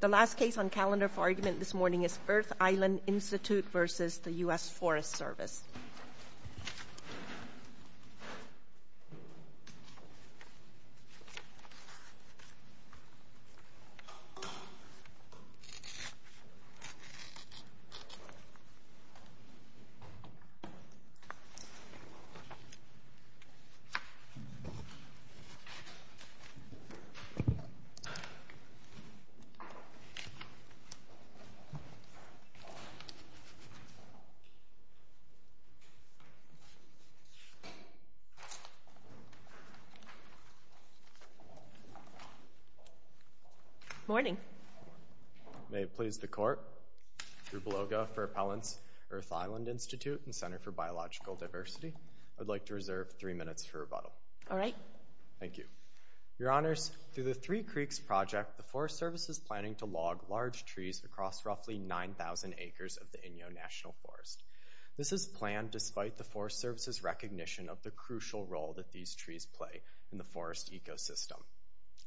The last case on calendar for argument this morning is Earth Island Institute v. US Forest Service. Good morning. May it please the Court. Drew Beloga for Appellants, Earth Island Institute and Center for Biological Diversity. I'd like to reserve three minutes for rebuttal. All right. Thank you. Your Honors, through the Three Creeks Project, the Forest Service is planning to log large trees across roughly 9,000 acres of the Inyo National Forest. This is planned despite the Forest Service's recognition of the crucial role that these trees play in the forest ecosystem.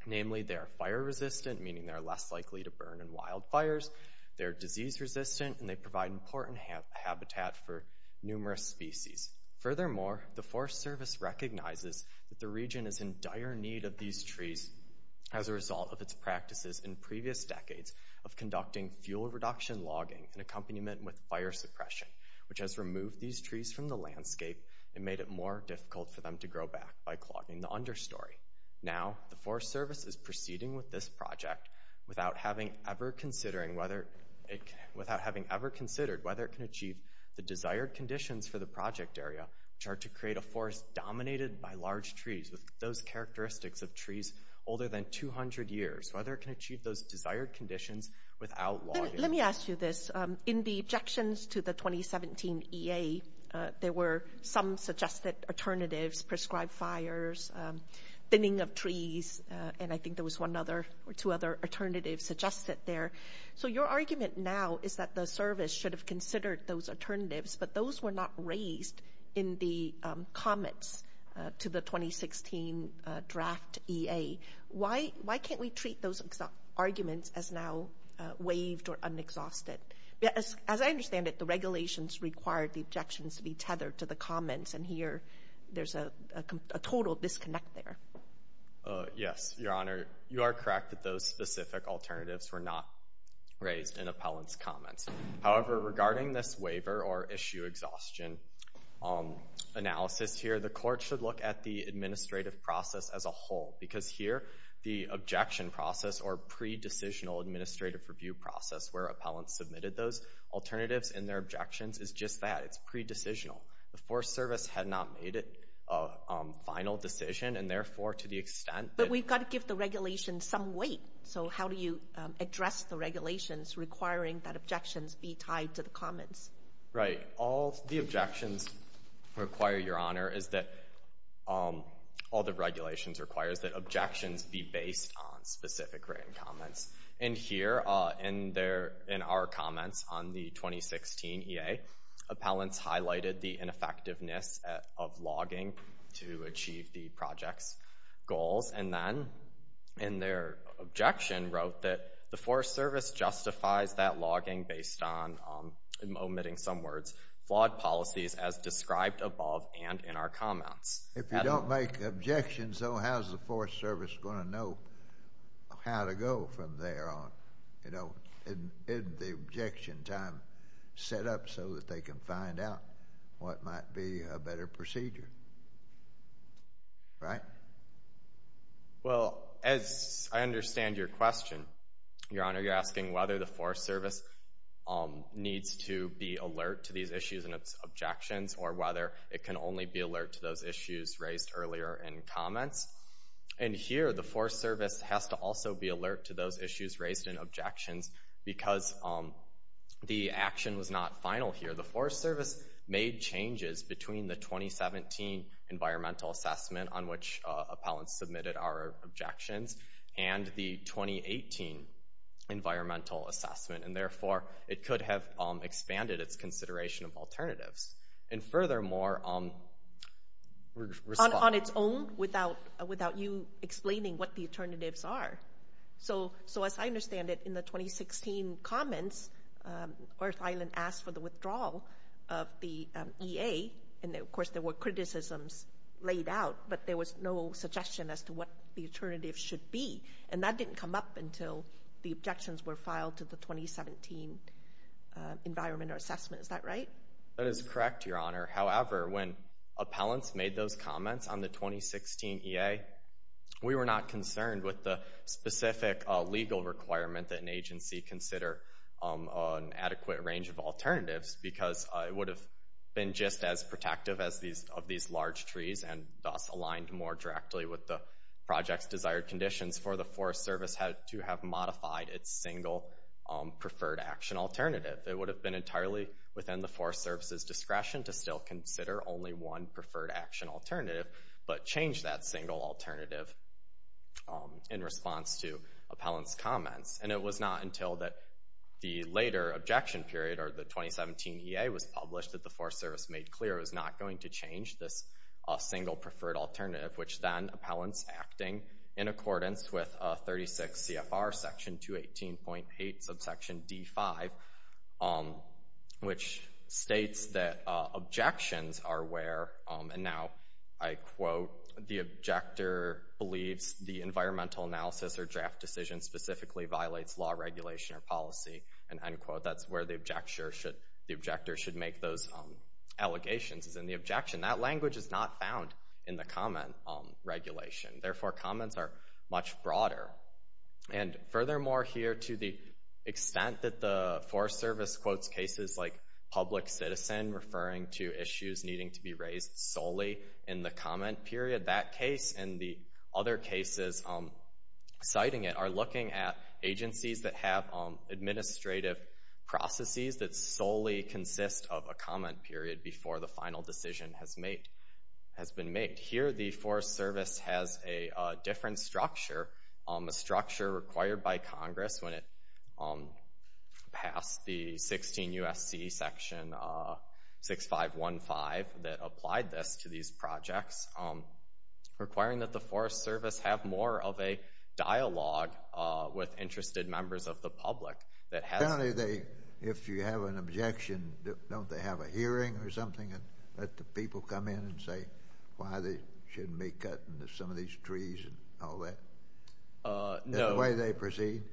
Namely, they are fire-resistant, meaning they are less likely to burn in wildfires. They are disease-resistant, and they provide important habitat for numerous species. Furthermore, the Forest Service recognizes that the region is in dire need of these trees as a result of its practices in previous decades of conducting fuel reduction logging in accompaniment with fire suppression, which has removed these trees from the landscape and made it more difficult for them to grow back by clogging the understory. Now, the Forest Service is proceeding with this project without having ever considered whether it can achieve the desired conditions for the project area, which are to create a forest dominated by large trees with those characteristics of trees older than 200 years, whether it can achieve those desired conditions without logging. Let me ask you this. In the objections to the 2017 EA, there were some suggested alternatives, prescribed fires, thinning of trees, and I think there was one other or two other alternatives suggested there. So your argument now is that the Service should have considered those alternatives, but those were not raised in the comments to the 2016 draft EA. Why can't we treat those arguments as now waived or unexhausted? As I understand it, the regulations required the objections to be tethered to the comments, and here there's a total disconnect there. Yes, Your Honor. You are correct that those specific alternatives were not raised in appellant's comments. However, regarding this waiver or issue exhaustion analysis here, the Court should look at the administrative process as a whole because here the objection process or pre-decisional administrative review process where appellants submitted those alternatives and their objections is just that. It's pre-decisional. The Forest Service had not made a final decision, and therefore to the extent that— Right. All the objections require, Your Honor, is that—all the regulations require that objections be based on specific written comments. And here in our comments on the 2016 EA, appellants highlighted the ineffectiveness of logging to achieve the project's goals, and then in their objection wrote that the Forest Service justifies that logging based on—I'm omitting some words—flawed policies as described above and in our comments. If you don't make objections, though, how's the Forest Service going to know how to go from there on? Isn't the objection time set up so that they can find out what might be a better procedure? Right? Well, as I understand your question, Your Honor, you're asking whether the Forest Service needs to be alert to these issues and its objections or whether it can only be alert to those issues raised earlier in comments. And here the Forest Service has to also be alert to those issues raised in objections because the action was not final here. The Forest Service made changes between the 2017 environmental assessment on which appellants submitted our objections and the 2018 environmental assessment, and therefore it could have expanded its consideration of alternatives. And furthermore— On its own, without you explaining what the alternatives are? So as I understand it, in the 2016 comments, Earth Island asked for the withdrawal of the EA, and of course there were criticisms laid out, but there was no suggestion as to what the alternatives should be. And that didn't come up until the objections were filed to the 2017 environmental assessment. Is that right? That is correct, Your Honor. However, when appellants made those comments on the 2016 EA, we were not concerned with the specific legal requirement that an agency consider an adequate range of alternatives because it would have been just as protective of these large trees and thus aligned more directly with the project's desired conditions for the Forest Service to have modified its single preferred action alternative. It would have been entirely within the Forest Service's discretion to still consider only one preferred action alternative, but change that single alternative in response to appellants' comments. And it was not until the later objection period, or the 2017 EA, was published that the Forest Service made clear it was not going to change this single preferred alternative, which then appellants acting in accordance with 36 CFR section 218.8 subsection D5, which states that objections are where, and now I quote, the objector believes the environmental analysis or draft decision specifically violates law, regulation, or policy, and end quote, that's where the objector should make those allegations, is in the objection. That language is not found in the comment regulation. Therefore, comments are much broader. And furthermore here, to the extent that the Forest Service quotes cases like public citizen, referring to issues needing to be raised solely in the comment period, that case and the other cases citing it are looking at agencies that have administrative processes that solely consist of a comment period before the final decision has been made. Here the Forest Service has a different structure, a structure required by Congress when it passed the 16 U.S.C. section 6515 that applied this to these projects, requiring that the Forest Service have more of a dialogue with interested members of the public. If you have an objection, don't they have a hearing or something and let the people come in and say why they shouldn't be cutting some of these trees and all that? Is that the way they proceed?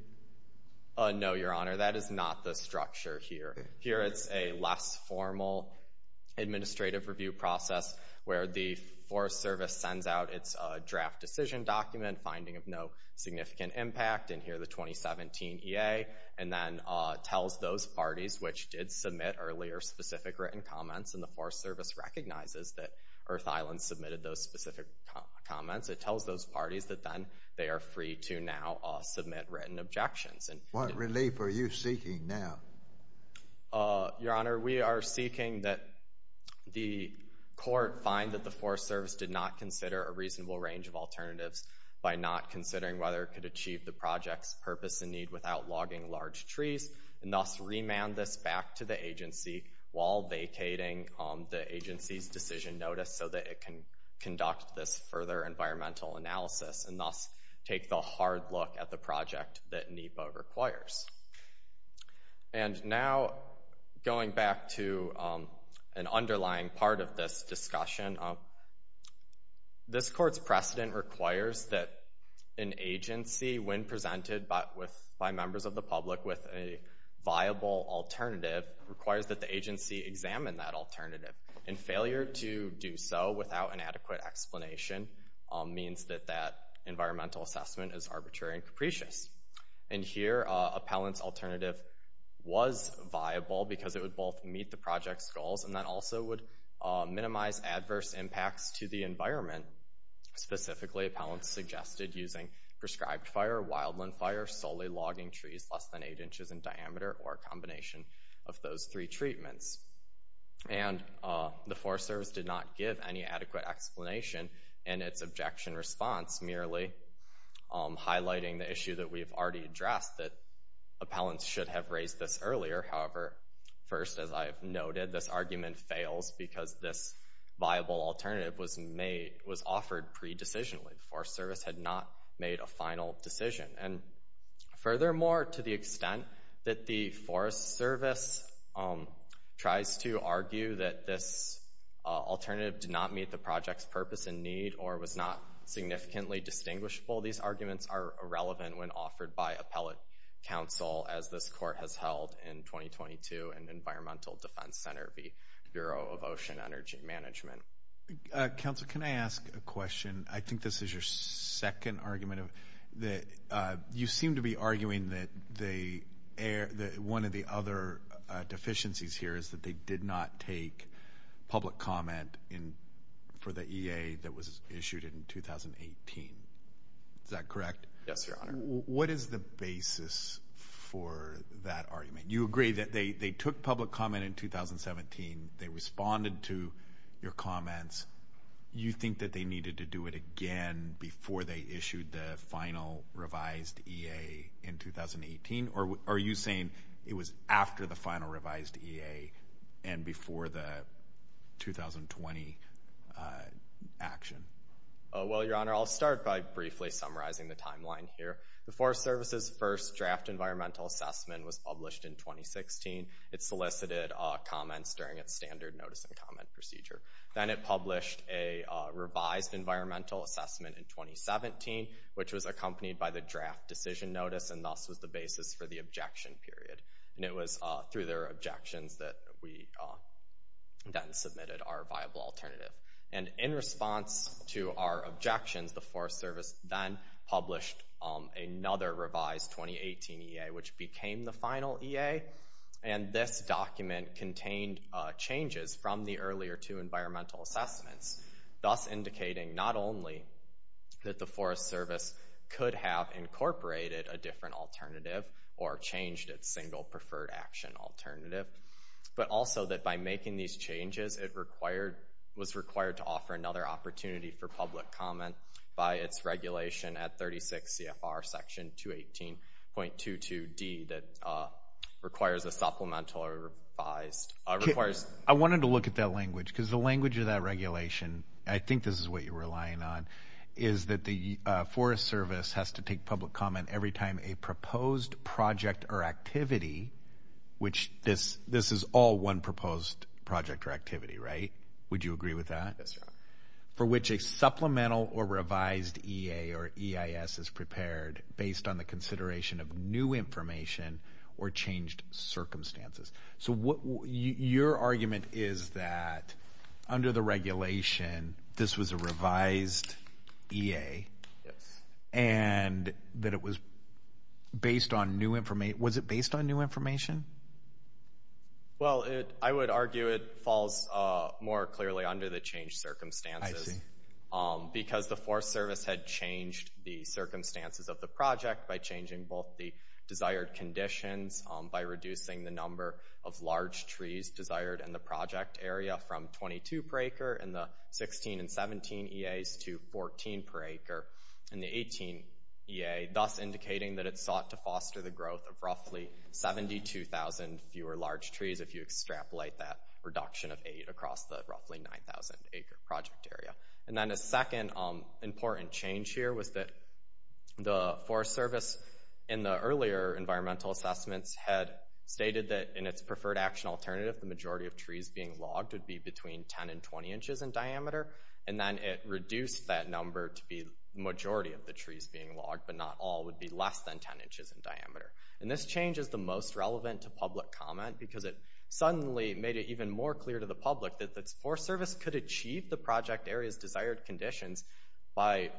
No, Your Honor, that is not the structure here. Here it's a less formal administrative review process where the Forest Service sends out its draft decision document, finding of no significant impact, in here the 2017 EA, and then tells those parties which did submit earlier specific written comments and the Forest Service recognizes that Earth Island submitted those specific comments. It tells those parties that then they are free to now submit written objections. What relief are you seeking now? Your Honor, we are seeking that the court find that the Forest Service did not consider a reasonable range of alternatives by not considering whether it could achieve the project's purpose and need without logging large trees and thus remand this back to the agency while vacating the agency's decision notice so that it can conduct this further environmental analysis and thus take the hard look at the project that NEPA requires. And now going back to an underlying part of this discussion, this court's precedent requires that an agency, when presented by members of the public with a viable alternative, requires that the agency examine that alternative. And failure to do so without an adequate explanation means that that environmental assessment is arbitrary and capricious. And here appellant's alternative was viable because it would both meet the project's goals and that also would minimize adverse impacts to the environment. Specifically, appellants suggested using prescribed fire, wildland fire, solely logging trees less than eight inches in diameter, or a combination of those three treatments. And the Forest Service did not give any adequate explanation in its objection response, merely highlighting the issue that we've already addressed, that appellants should have raised this earlier. However, first, as I've noted, this argument fails because this viable alternative was offered pre-decisionally. The Forest Service had not made a final decision. And furthermore, to the extent that the Forest Service tries to argue that this alternative did not meet the project's purpose and need or was not significantly distinguishable, these arguments are irrelevant when offered by appellate counsel, as this court has held in 2022 in Environmental Defense Center v. Bureau of Ocean Energy Management. Council, can I ask a question? I think this is your second argument. You seem to be arguing that one of the other deficiencies here is that they did not take public comment for the EA that was issued in 2018. Is that correct? Yes, Your Honor. What is the basis for that argument? You agree that they took public comment in 2017. They responded to your comments. You think that they needed to do it again before they issued the final revised EA in 2018? Or are you saying it was after the final revised EA and before the 2020 action? Well, Your Honor, I'll start by briefly summarizing the timeline here. The Forest Service's first draft environmental assessment was published in 2016. It solicited comments during its standard notice and comment procedure. Then it published a revised environmental assessment in 2017, which was accompanied by the draft decision notice, and thus was the basis for the objection period. And it was through their objections that we then submitted our viable alternative. And in response to our objections, the Forest Service then published another revised 2018 EA, which became the final EA. And this document contained changes from the earlier two environmental assessments, thus indicating not only that the Forest Service could have incorporated a different alternative or changed its single preferred action alternative, but also that by making these changes it was required to offer another opportunity for public comment by its regulation at 36 CFR section 218.22d that requires a supplemental revised. I wanted to look at that language because the language of that regulation, and I think this is what you're relying on, is that the Forest Service has to take public comment every time a proposed project or activity, which this is all one proposed project or activity, right? Would you agree with that? Yes, Your Honor. For which a supplemental or revised EA or EIS is prepared based on the consideration of new information or changed circumstances. So your argument is that under the regulation this was a revised EA. Yes. And that it was based on new information. Was it based on new information? Well, I would argue it falls more clearly under the changed circumstances. I see. Because the Forest Service had changed the circumstances of the project by changing both the desired conditions, by reducing the number of large trees desired in the project area from 22 per acre in the 16 and 17 EAs to 14 per acre in the 18 EA, thus indicating that it sought to foster the growth of roughly 72,000 fewer large trees if you extrapolate that reduction of 8 across the roughly 9,000 acre project area. And then a second important change here was that the Forest Service in the earlier environmental assessments had stated that in its preferred action alternative the majority of trees being logged would be between 10 and 20 inches in diameter and then it reduced that number to be the majority of the trees being logged but not all would be less than 10 inches in diameter. And this change is the most relevant to public comment because it suddenly made it even more clear to the public that the Forest Service could achieve the project area's desired conditions by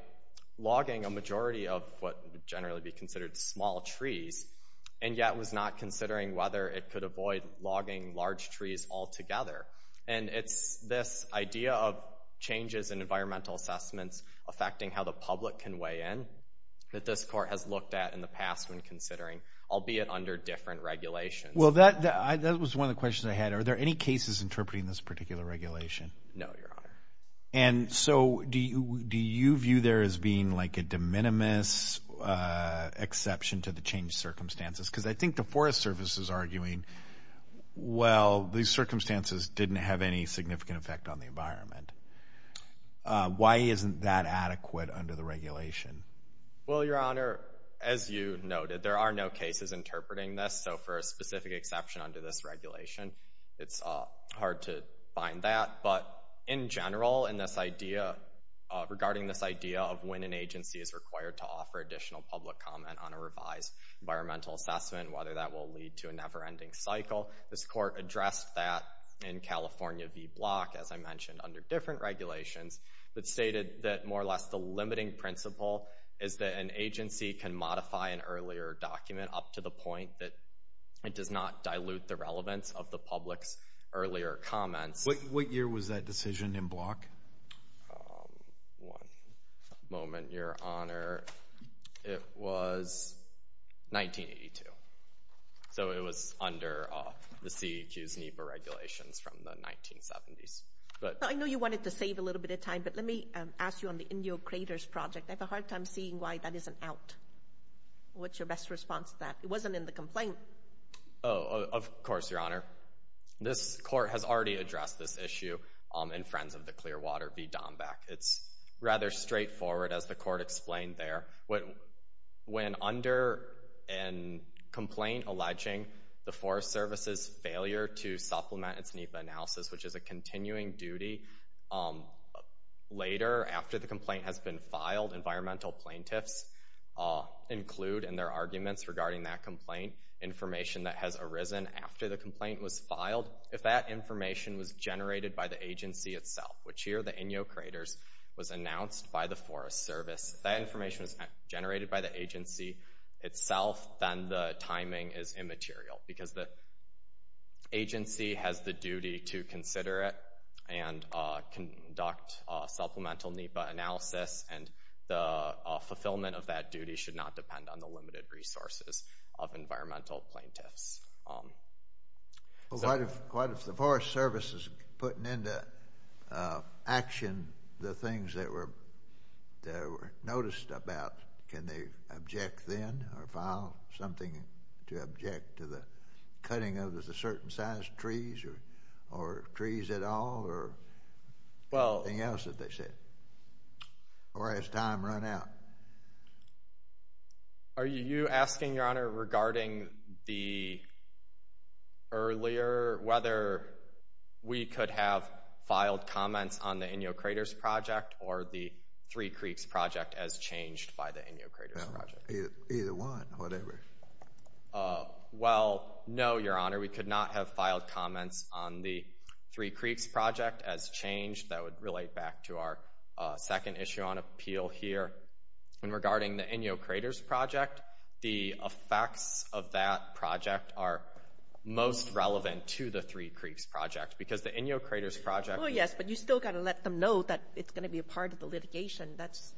logging a majority of what would generally be considered small trees and yet was not considering whether it could avoid logging large trees altogether. And it's this idea of changes in environmental assessments affecting how the public can weigh in that this court has looked at in the past when considering, albeit under different regulations. Well, that was one of the questions I had. Are there any cases interpreting this particular regulation? No, Your Honor. And so do you view there as being like a de minimis exception to the changed circumstances? Because I think the Forest Service is arguing, well, these circumstances didn't have any significant effect on the environment. Why isn't that adequate under the regulation? Well, Your Honor, as you noted, there are no cases interpreting this. So for a specific exception under this regulation, it's hard to find that. But in general, regarding this idea of when an agency is required to offer additional public comment on a revised environmental assessment, whether that will lead to a never-ending cycle, this court addressed that in California v. Block, as I mentioned, under different regulations, but stated that more or less the limiting principle is that an agency can modify an earlier document up to the point that it does not dilute the relevance of the public's earlier comments. What year was that decision in Block? One moment, Your Honor. It was 1982. So it was under the CEQ's NEPA regulations from the 1970s. I know you wanted to save a little bit of time, but let me ask you on the Indian Craters Project. I have a hard time seeing why that isn't out. What's your best response to that? It wasn't in the complaint. Oh, of course, Your Honor. This court has already addressed this issue in Friends of the Clear Water v. Dombak. It's rather straightforward, as the court explained there. When under a complaint alleging the Forest Service's failure to supplement its NEPA analysis, which is a continuing duty, later, after the complaint has been filed, environmental plaintiffs include in their arguments regarding that complaint information that has arisen after the complaint was filed. If that information was generated by the agency itself, which here, the Inyo Craters, was announced by the Forest Service, if that information was generated by the agency itself, then the timing is immaterial, because the agency has the duty to consider it and conduct supplemental NEPA analysis, and the fulfillment of that duty should not depend on the limited resources of environmental plaintiffs. But what if the Forest Service is putting into action the things that were noticed about, can they object then or file something to object to the cutting of a certain size trees or trees at all or anything else that they said? Or has time run out? Are you asking, Your Honor, regarding the earlier, whether we could have filed comments on the Inyo Craters project or the Three Creeks project as changed by the Inyo Craters project? Either one, whatever. Well, no, Your Honor, we could not have filed comments on the Three Creeks project as changed. That would relate back to our second issue on appeal here. And regarding the Inyo Craters project, the effects of that project are most relevant to the Three Creeks project, because the Inyo Craters project— that's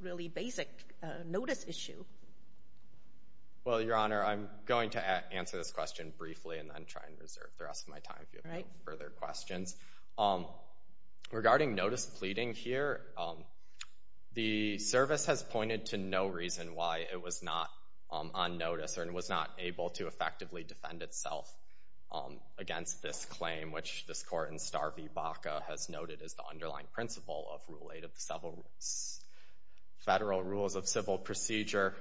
a really basic notice issue. Well, Your Honor, I'm going to answer this question briefly and then try and reserve the rest of my time if you have any further questions. Regarding notice pleading here, the service has pointed to no reason why it was not on notice or was not able to effectively defend itself against this claim, which this court in Star v. Baca has noted as the underlying principle of Rule 8 of the Federal Rules of Civil Procedure.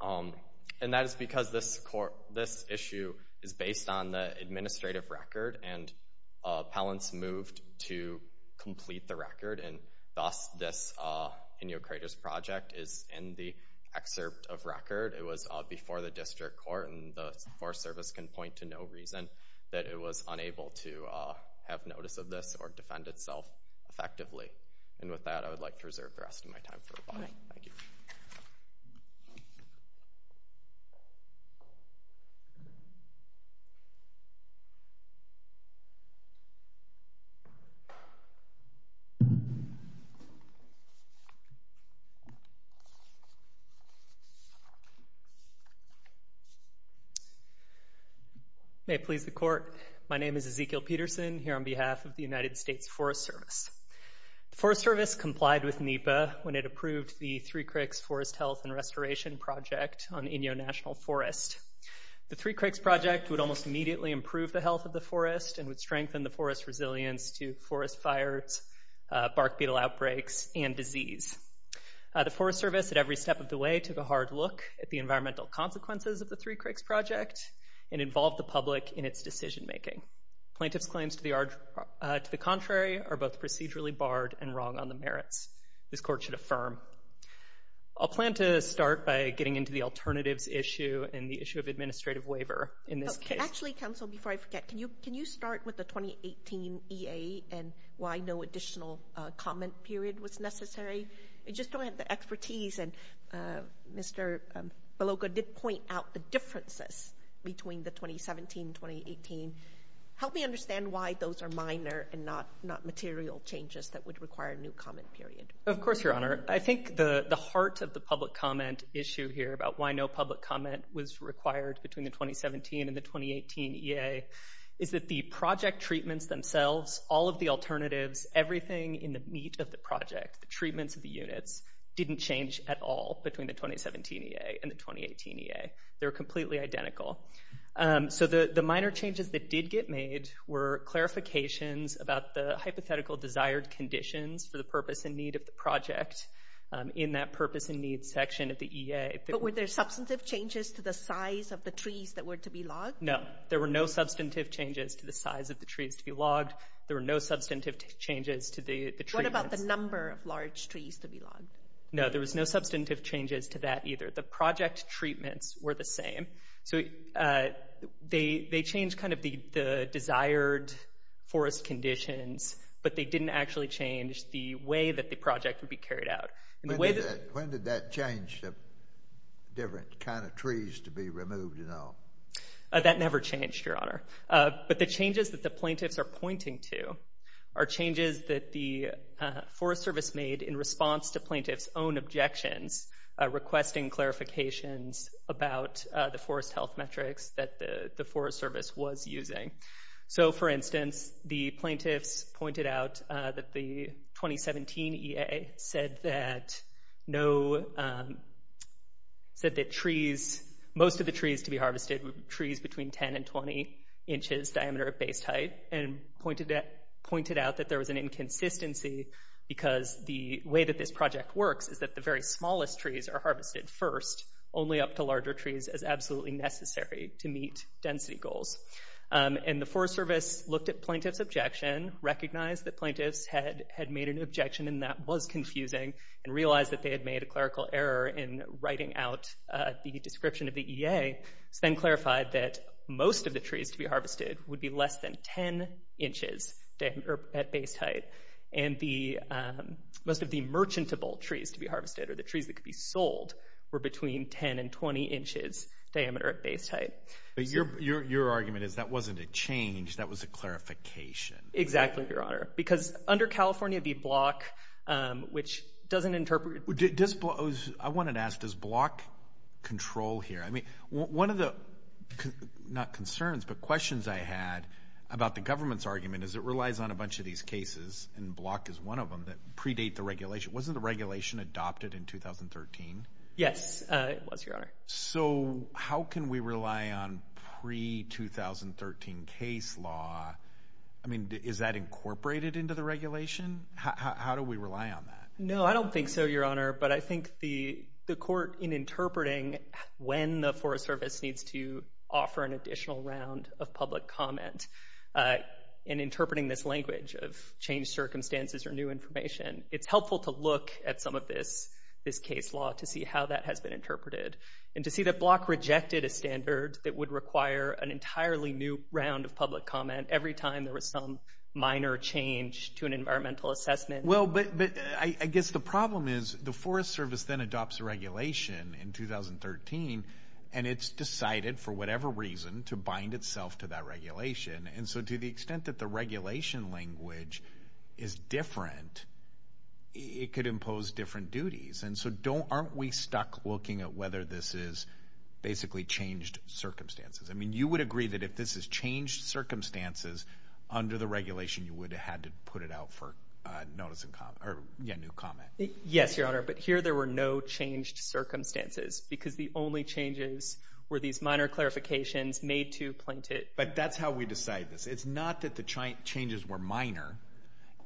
And that is because this issue is based on the administrative record, and appellants moved to complete the record. And thus, this Inyo Craters project is in the excerpt of record. It was before the district court, and the Forest Service can point to no reason that it was unable to have notice of this or defend itself effectively. And with that, I would like to reserve the rest of my time for rebuttal. Thank you. May it please the court. My name is Ezekiel Peterson here on behalf of the United States Forest Service. The Forest Service complied with NEPA when it approved the Three Cricks Forest Health and Restoration Project on Inyo National Forest. The Three Cricks project would almost immediately improve the health of the forest and would strengthen the forest's resilience to forest fires, bark beetle outbreaks, and disease. The Forest Service, at every step of the way, took a hard look at the environmental consequences of the Three Cricks project and involved the public in its decision-making. Plaintiff's claims to the contrary are both procedurally barred and wrong on the merits. This court should affirm. I'll plan to start by getting into the alternatives issue and the issue of administrative waiver in this case. Actually, counsel, before I forget, can you start with the 2018 EA and why no additional comment period was necessary? I just don't have the expertise, and Mr. Belogo did point out the differences between the 2017 and 2018. Help me understand why those are minor and not material changes that would require a new comment period. Of course, Your Honor. I think the heart of the public comment issue here about why no public comment was required between the 2017 and the 2018 EA is that the project treatments themselves, all of the alternatives, everything in the meat of the project, the treatments of the units, didn't change at all between the 2017 EA and the 2018 EA. They were completely identical. So the minor changes that did get made were clarifications about the hypothetical desired conditions for the purpose and need of the project in that purpose and need section of the EA. But were there substantive changes to the size of the trees that were to be logged? No, there were no substantive changes to the size of the trees to be logged. There were no substantive changes to the treatments. What about the number of large trees to be logged? No, there was no substantive changes to that either. The project treatments were the same. So they changed kind of the desired forest conditions, but they didn't actually change the way that the project would be carried out. When did that change the different kind of trees to be removed and all? That never changed, Your Honor. But the changes that the plaintiffs are pointing to are changes that the Forest Service made in response to plaintiffs' own objections requesting clarifications about the forest health metrics that the Forest Service was using. So, for instance, the plaintiffs pointed out that the 2017 EA said that most of the trees to be harvested were trees between 10 and 20 inches diameter at base height and pointed out that there was an inconsistency because the way that this project works is that the very smallest trees are harvested first, only up to larger trees as absolutely necessary to meet density goals. And the Forest Service looked at plaintiffs' objection, recognized that plaintiffs had made an objection and that was confusing, and realized that they had made a clerical error in writing out the description of the EA. It was then clarified that most of the trees to be harvested would be less than 10 inches at base height and most of the merchantable trees to be harvested or the trees that could be sold were between 10 and 20 inches diameter at base height. But your argument is that wasn't a change, that was a clarification. Exactly, Your Honor, because under California, the block, which doesn't interpret... I wanted to ask, does block control here? I mean, one of the, not concerns, but questions I had about the government's argument is it relies on a bunch of these cases, and block is one of them, that predate the regulation. Wasn't the regulation adopted in 2013? Yes, it was, Your Honor. So how can we rely on pre-2013 case law? I mean, is that incorporated into the regulation? How do we rely on that? No, I don't think so, Your Honor, but I think the court in interpreting when the Forest Service needs to offer an additional round of public comment in interpreting this language of changed circumstances or new information, it's helpful to look at some of this case law to see how that has been interpreted and to see that block rejected a standard that would require an entirely new round of public comment every time there was some minor change to an environmental assessment. Well, but I guess the problem is the Forest Service then adopts a regulation in 2013, and it's decided for whatever reason to bind itself to that regulation. And so to the extent that the regulation language is different, it could impose different duties. And so aren't we stuck looking at whether this is basically changed circumstances? I mean, you would agree that if this is changed circumstances under the regulation, you would have had to put it out for notice and comment, or, yeah, new comment. Yes, Your Honor, but here there were no changed circumstances because the only changes were these minor clarifications made to plaintiff. But that's how we decide this. It's not that the changes were minor,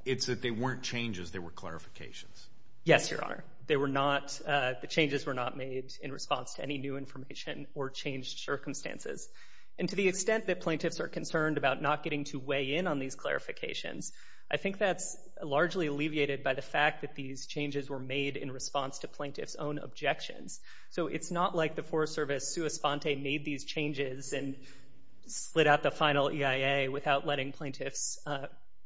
it's that they weren't changes, they were clarifications. Yes, Your Honor. They were not, the changes were not made in response to any new information or changed circumstances. And to the extent that plaintiffs are concerned about not getting to weigh in on these clarifications, I think that's largely alleviated by the fact that these changes were made in response to plaintiffs' own objections. So it's not like the Forest Service sua sponte made these changes and slid out the final EIA without letting plaintiffs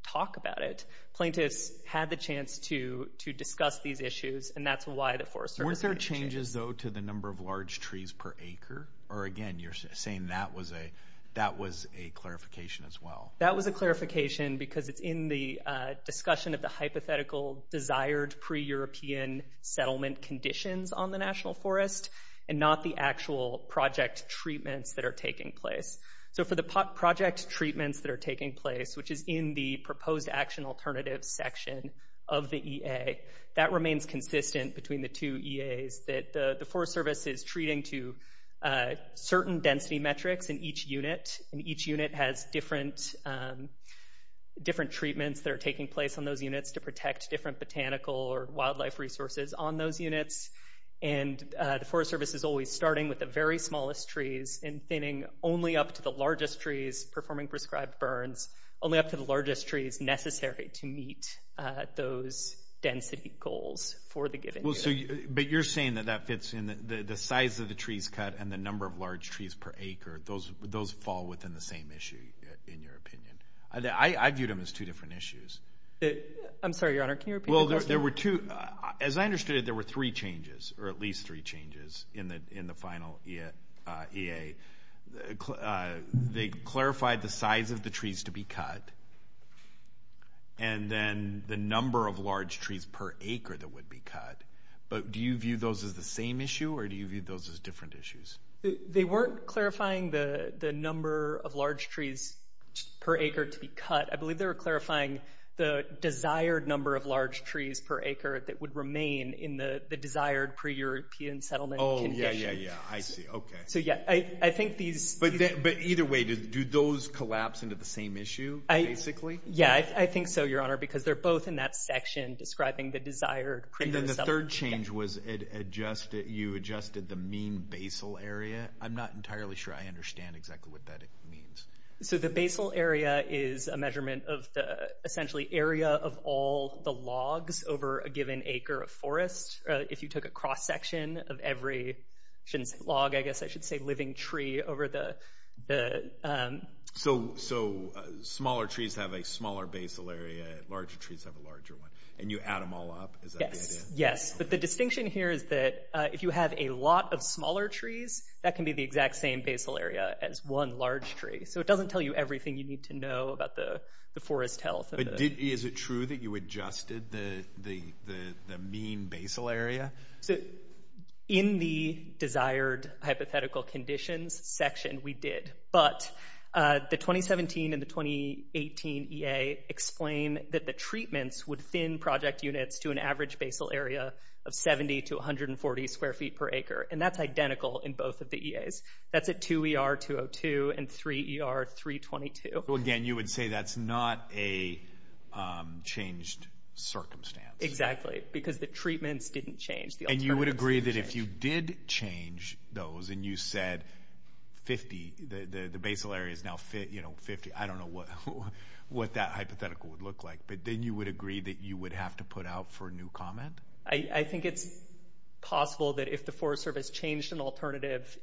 talk about it. Plaintiffs had the chance to discuss these issues, and that's why the Forest Service made the changes. Weren't there changes, though, to the number of large trees per acre? Or, again, you're saying that was a clarification as well. That was a clarification because it's in the discussion of the hypothetical desired pre-European settlement conditions on the National Forest and not the actual project treatments that are taking place. So for the project treatments that are taking place, which is in the proposed action alternative section of the EA, that remains consistent between the two EAs, that the Forest Service is treating to certain density metrics in each unit. And each unit has different treatments that are taking place on those units to protect different botanical or wildlife resources on those units. And the Forest Service is always starting with the very smallest trees and thinning only up to the largest trees performing prescribed burns, only up to the largest trees necessary to meet those density goals for the given unit. But you're saying that that fits in the size of the trees cut and the number of large trees per acre. Those fall within the same issue, in your opinion. I viewed them as two different issues. I'm sorry, Your Honor, can you repeat the question? Well, there were two. As I understood it, there were three changes or at least three changes in the final EA. They clarified the size of the trees to be cut and then the number of large trees per acre that would be cut. But do you view those as the same issue or do you view those as different issues? They weren't clarifying the number of large trees per acre to be cut. I believe they were clarifying the desired number of large trees per acre that would remain in the desired pre-European settlement condition. Oh, yeah, yeah, yeah. I see. Okay. So, yeah, I think these… But either way, do those collapse into the same issue, basically? Yeah, I think so, Your Honor, because they're both in that section describing the desired pre-European settlement condition. The third change was you adjusted the mean basal area. I'm not entirely sure I understand exactly what that means. So the basal area is a measurement of the, essentially, area of all the logs over a given acre of forest. If you took a cross-section of every log, I guess I should say living tree over the… So smaller trees have a smaller basal area, larger trees have a larger one, and you add them all up? Yes, yes. But the distinction here is that if you have a lot of smaller trees, that can be the exact same basal area as one large tree. So it doesn't tell you everything you need to know about the forest health. Is it true that you adjusted the mean basal area? In the desired hypothetical conditions section, we did. But the 2017 and the 2018 EA explain that the treatments would thin project units to an average basal area of 70 to 140 square feet per acre. And that's identical in both of the EAs. That's at 2ER-202 and 3ER-322. Well, again, you would say that's not a changed circumstance. Exactly, because the treatments didn't change. And you would agree that if you did change those and you said 50, the basal area is now 50, I don't know what that hypothetical would look like. But then you would agree that you would have to put out for new comment? I think it's possible that if the Forest Service changed an alternative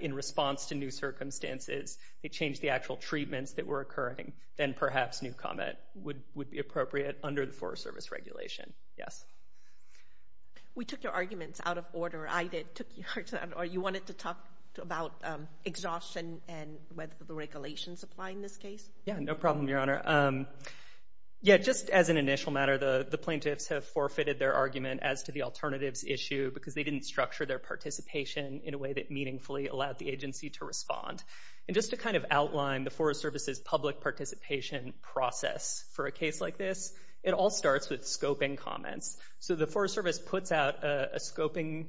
in response to new circumstances, they changed the actual treatments that were occurring, then perhaps new comment would be appropriate under the Forest Service regulation. Yes. We took your arguments out of order. I did. You wanted to talk about exhaustion and whether the regulations apply in this case? Yeah, no problem, Your Honor. Yeah, just as an initial matter, the plaintiffs have forfeited their argument as to the alternatives issue because they didn't structure their participation in a way that meaningfully allowed the agency to respond. And just to kind of outline the Forest Service's public participation process for a case like this, it all starts with scoping comments. So the Forest Service puts out a scoping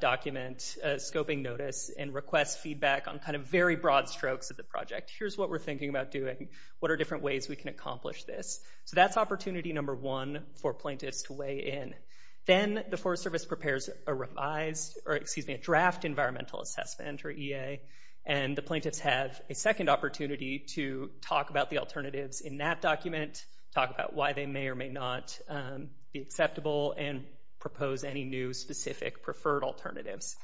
document, a scoping notice, and requests feedback on kind of very broad strokes of the project. Here's what we're thinking about doing. What are different ways we can accomplish this? So that's opportunity number one for plaintiffs to weigh in. Then the Forest Service prepares a draft environmental assessment, or EA, and the plaintiffs have a second opportunity to talk about the alternatives in that document, talk about why they may or may not be acceptable, and propose any new specific preferred alternatives.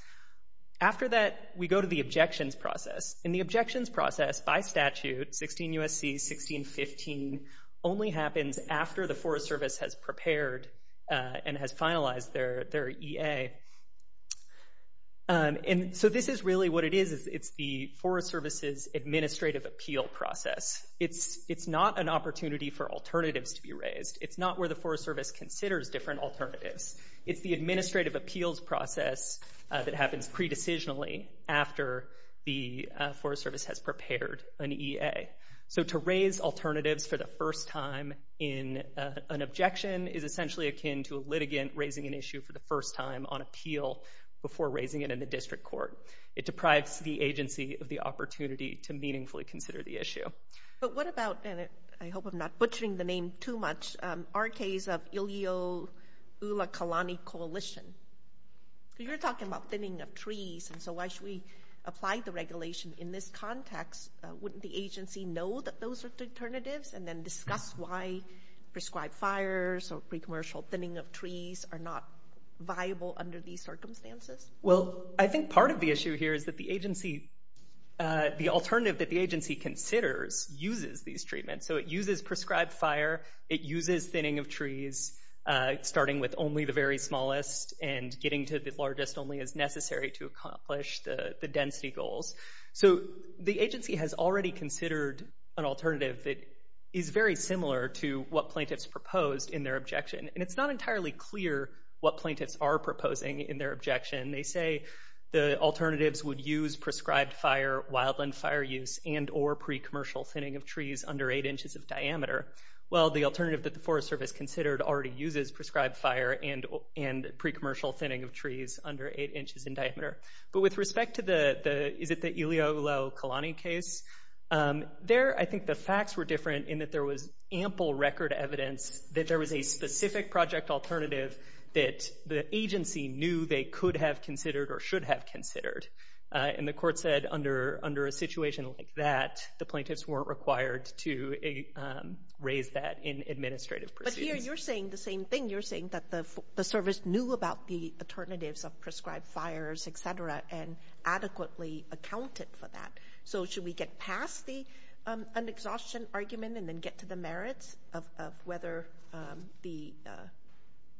After that, we go to the objections process. And the objections process, by statute, 16 U.S.C., 1615, only happens after the Forest Service has prepared and has finalized their EA. And so this is really what it is. It's the Forest Service's administrative appeal process. It's not an opportunity for alternatives to be raised. It's not where the Forest Service considers different alternatives. It's the administrative appeals process that happens pre-decisionally after the Forest Service has prepared an EA. So to raise alternatives for the first time in an objection is essentially akin to a litigant raising an issue for the first time on appeal before raising it in the district court. It deprives the agency of the opportunity to meaningfully consider the issue. But what about, and I hope I'm not butchering the name too much, our case of Ilio-Ula-Kalani Coalition? You're talking about thinning of trees, and so why should we apply the regulation in this context? Wouldn't the agency know that those are alternatives and then discuss why prescribed fires or pre-commercial thinning of trees are not viable under these circumstances? Well, I think part of the issue here is that the alternative that the agency considers uses these treatments. So it uses prescribed fire. It uses thinning of trees, starting with only the very smallest and getting to the largest only as necessary to accomplish the density goals. So the agency has already considered an alternative that is very similar to what plaintiffs proposed in their objection. And it's not entirely clear what plaintiffs are proposing in their objection. They say the alternatives would use prescribed fire, wildland fire use, and or pre-commercial thinning of trees under 8 inches of diameter. Well, the alternative that the Forest Service considered already uses prescribed fire and pre-commercial thinning of trees under 8 inches in diameter. But with respect to the, is it the Ileolo Kalani case? There, I think the facts were different in that there was ample record evidence that there was a specific project alternative that the agency knew they could have considered or should have considered. And the court said under a situation like that, the plaintiffs weren't required to raise that in administrative proceedings. Here, you're saying the same thing. You're saying that the service knew about the alternatives of prescribed fires, et cetera, and adequately accounted for that. So should we get past the unexhaustion argument and then get to the merits of whether the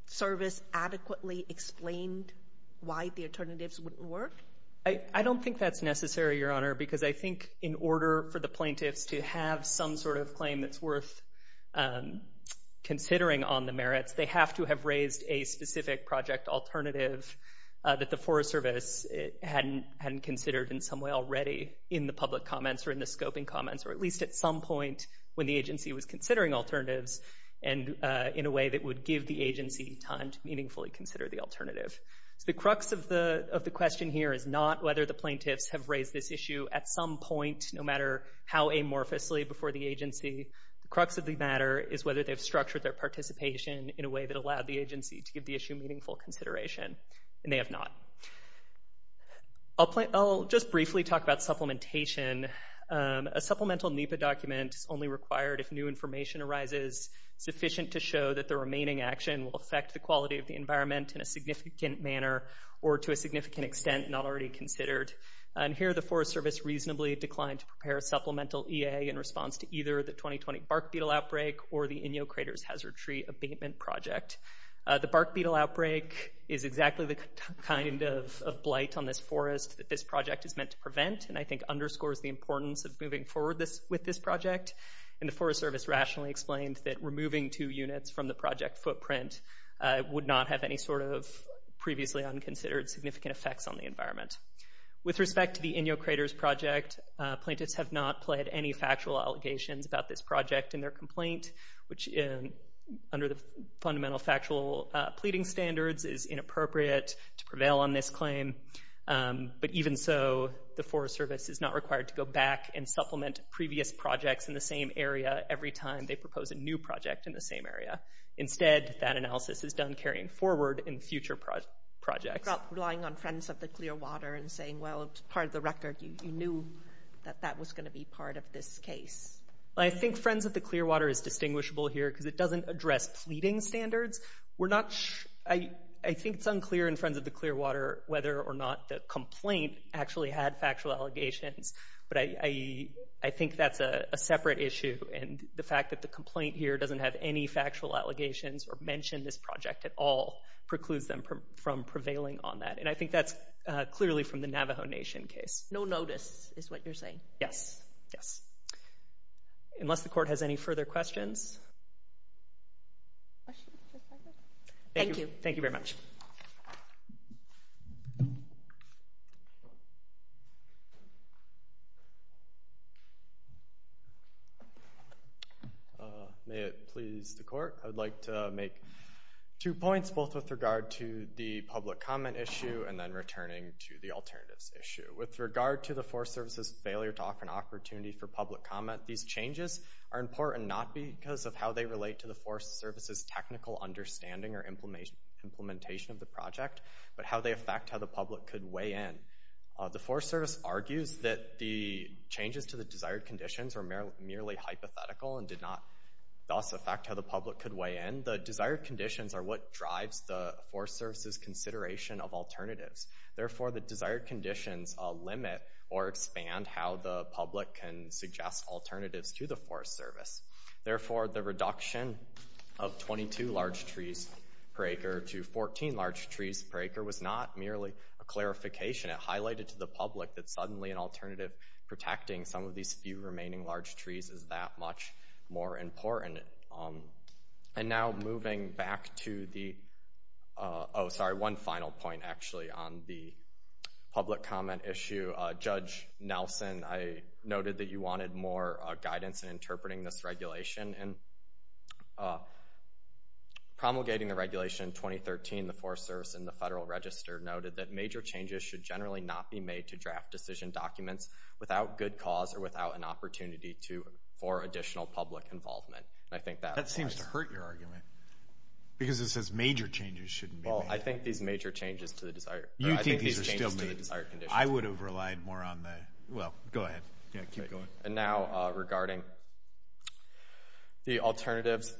service adequately explained why the alternatives wouldn't work? I don't think that's necessary, Your Honor, because I think in order for the plaintiffs to have some sort of claim that's worth considering on the merits, they have to have raised a specific project alternative that the Forest Service hadn't considered in some way already in the public comments or in the scoping comments, or at least at some point when the agency was considering alternatives and in a way that would give the agency time to meaningfully consider the alternative. So the crux of the question here is not whether the plaintiffs have raised this issue at some point, no matter how amorphously before the agency. The crux of the matter is whether they've structured their participation in a way that allowed the agency to give the issue meaningful consideration, and they have not. I'll just briefly talk about supplementation. A supplemental NEPA document is only required if new information arises sufficient to show that the remaining action will affect the quality of the environment in a significant manner or to a significant extent not already considered. And here the Forest Service reasonably declined to prepare a supplemental EA in response to either the 2020 bark beetle outbreak or the Inyo Craters Hazard Tree Abatement Project. The bark beetle outbreak is exactly the kind of blight on this forest that this project is meant to prevent and I think underscores the importance of moving forward with this project. And the Forest Service rationally explained that removing two units from the project footprint would not have any sort of previously unconsidered significant effects on the environment. With respect to the Inyo Craters project, plaintiffs have not pled any factual allegations about this project in their complaint, which under the fundamental factual pleading standards is inappropriate to prevail on this claim. But even so, the Forest Service is not required to go back and supplement previous projects in the same area every time they propose a new project in the same area. Instead, that analysis is done carrying forward in future projects. You're not relying on Friends of the Clearwater and saying, well, it's part of the record. You knew that that was going to be part of this case. I think Friends of the Clearwater is distinguishable here because it doesn't address pleading standards. I think it's unclear in Friends of the Clearwater whether or not the complaint actually had factual allegations, but I think that's a separate issue and the fact that the complaint here doesn't have any factual allegations or mention this project at all precludes them from prevailing on that. And I think that's clearly from the Navajo Nation case. No notice is what you're saying? Yes. Unless the court has any further questions? Thank you. Thank you very much. May it please the court? I would like to make two points, both with regard to the public comment issue and then returning to the alternatives issue. With regard to the Forest Service's failure to offer an opportunity for public comment, these changes are important not because of how they relate to the Forest Service's technical understanding or implementation of the project, but how they affect how the public could weigh in. The Forest Service argues that the changes to the desired conditions were merely hypothetical and did not thus affect how the public could weigh in. The desired conditions are what drives the Forest Service's consideration of alternatives. Therefore, the desired conditions limit or expand how the public can suggest alternatives to the Forest Service. Therefore, the reduction of 22 large trees per acre to 14 large trees per acre was not merely a clarification. It highlighted to the public that suddenly an alternative protecting some of these few remaining large trees is that much more important. And now moving back to the—oh, sorry, one final point, actually, on the public comment issue. Judge Nelson, I noted that you wanted more guidance in interpreting this regulation. Promulgating the regulation in 2013, the Forest Service and the Federal Register noted that major changes should generally not be made to draft decision documents without good cause or without an opportunity for additional public involvement. That seems to hurt your argument because it says major changes shouldn't be made. Well, I think these major changes to the desired— You think these are still made. I would have relied more on the—well, go ahead. Keep going. And now regarding the alternatives,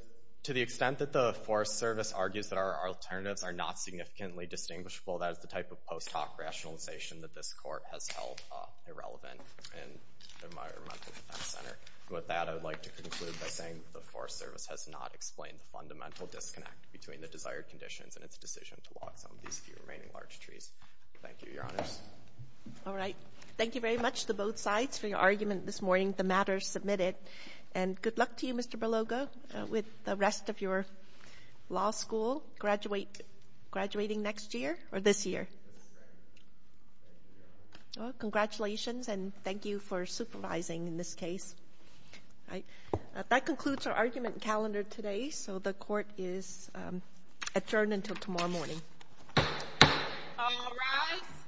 to the extent that the Forest Service argues that our alternatives are not significantly distinguishable, that is the type of post hoc rationalization that this court has held irrelevant in the Environmental Defense Center. With that, I would like to conclude by saying that the Forest Service has not explained the fundamental disconnect between the desired conditions and its decision to walk some of these few remaining large trees. Thank you, Your Honors. All right. Thank you very much to both sides for your argument this morning. The matter is submitted. And good luck to you, Mr. Belogo, with the rest of your law school graduating next year or this year. Thank you, Your Honors. Congratulations, and thank you for supervising in this case. That concludes our argument calendar today, so the court is adjourned until tomorrow morning. All rise.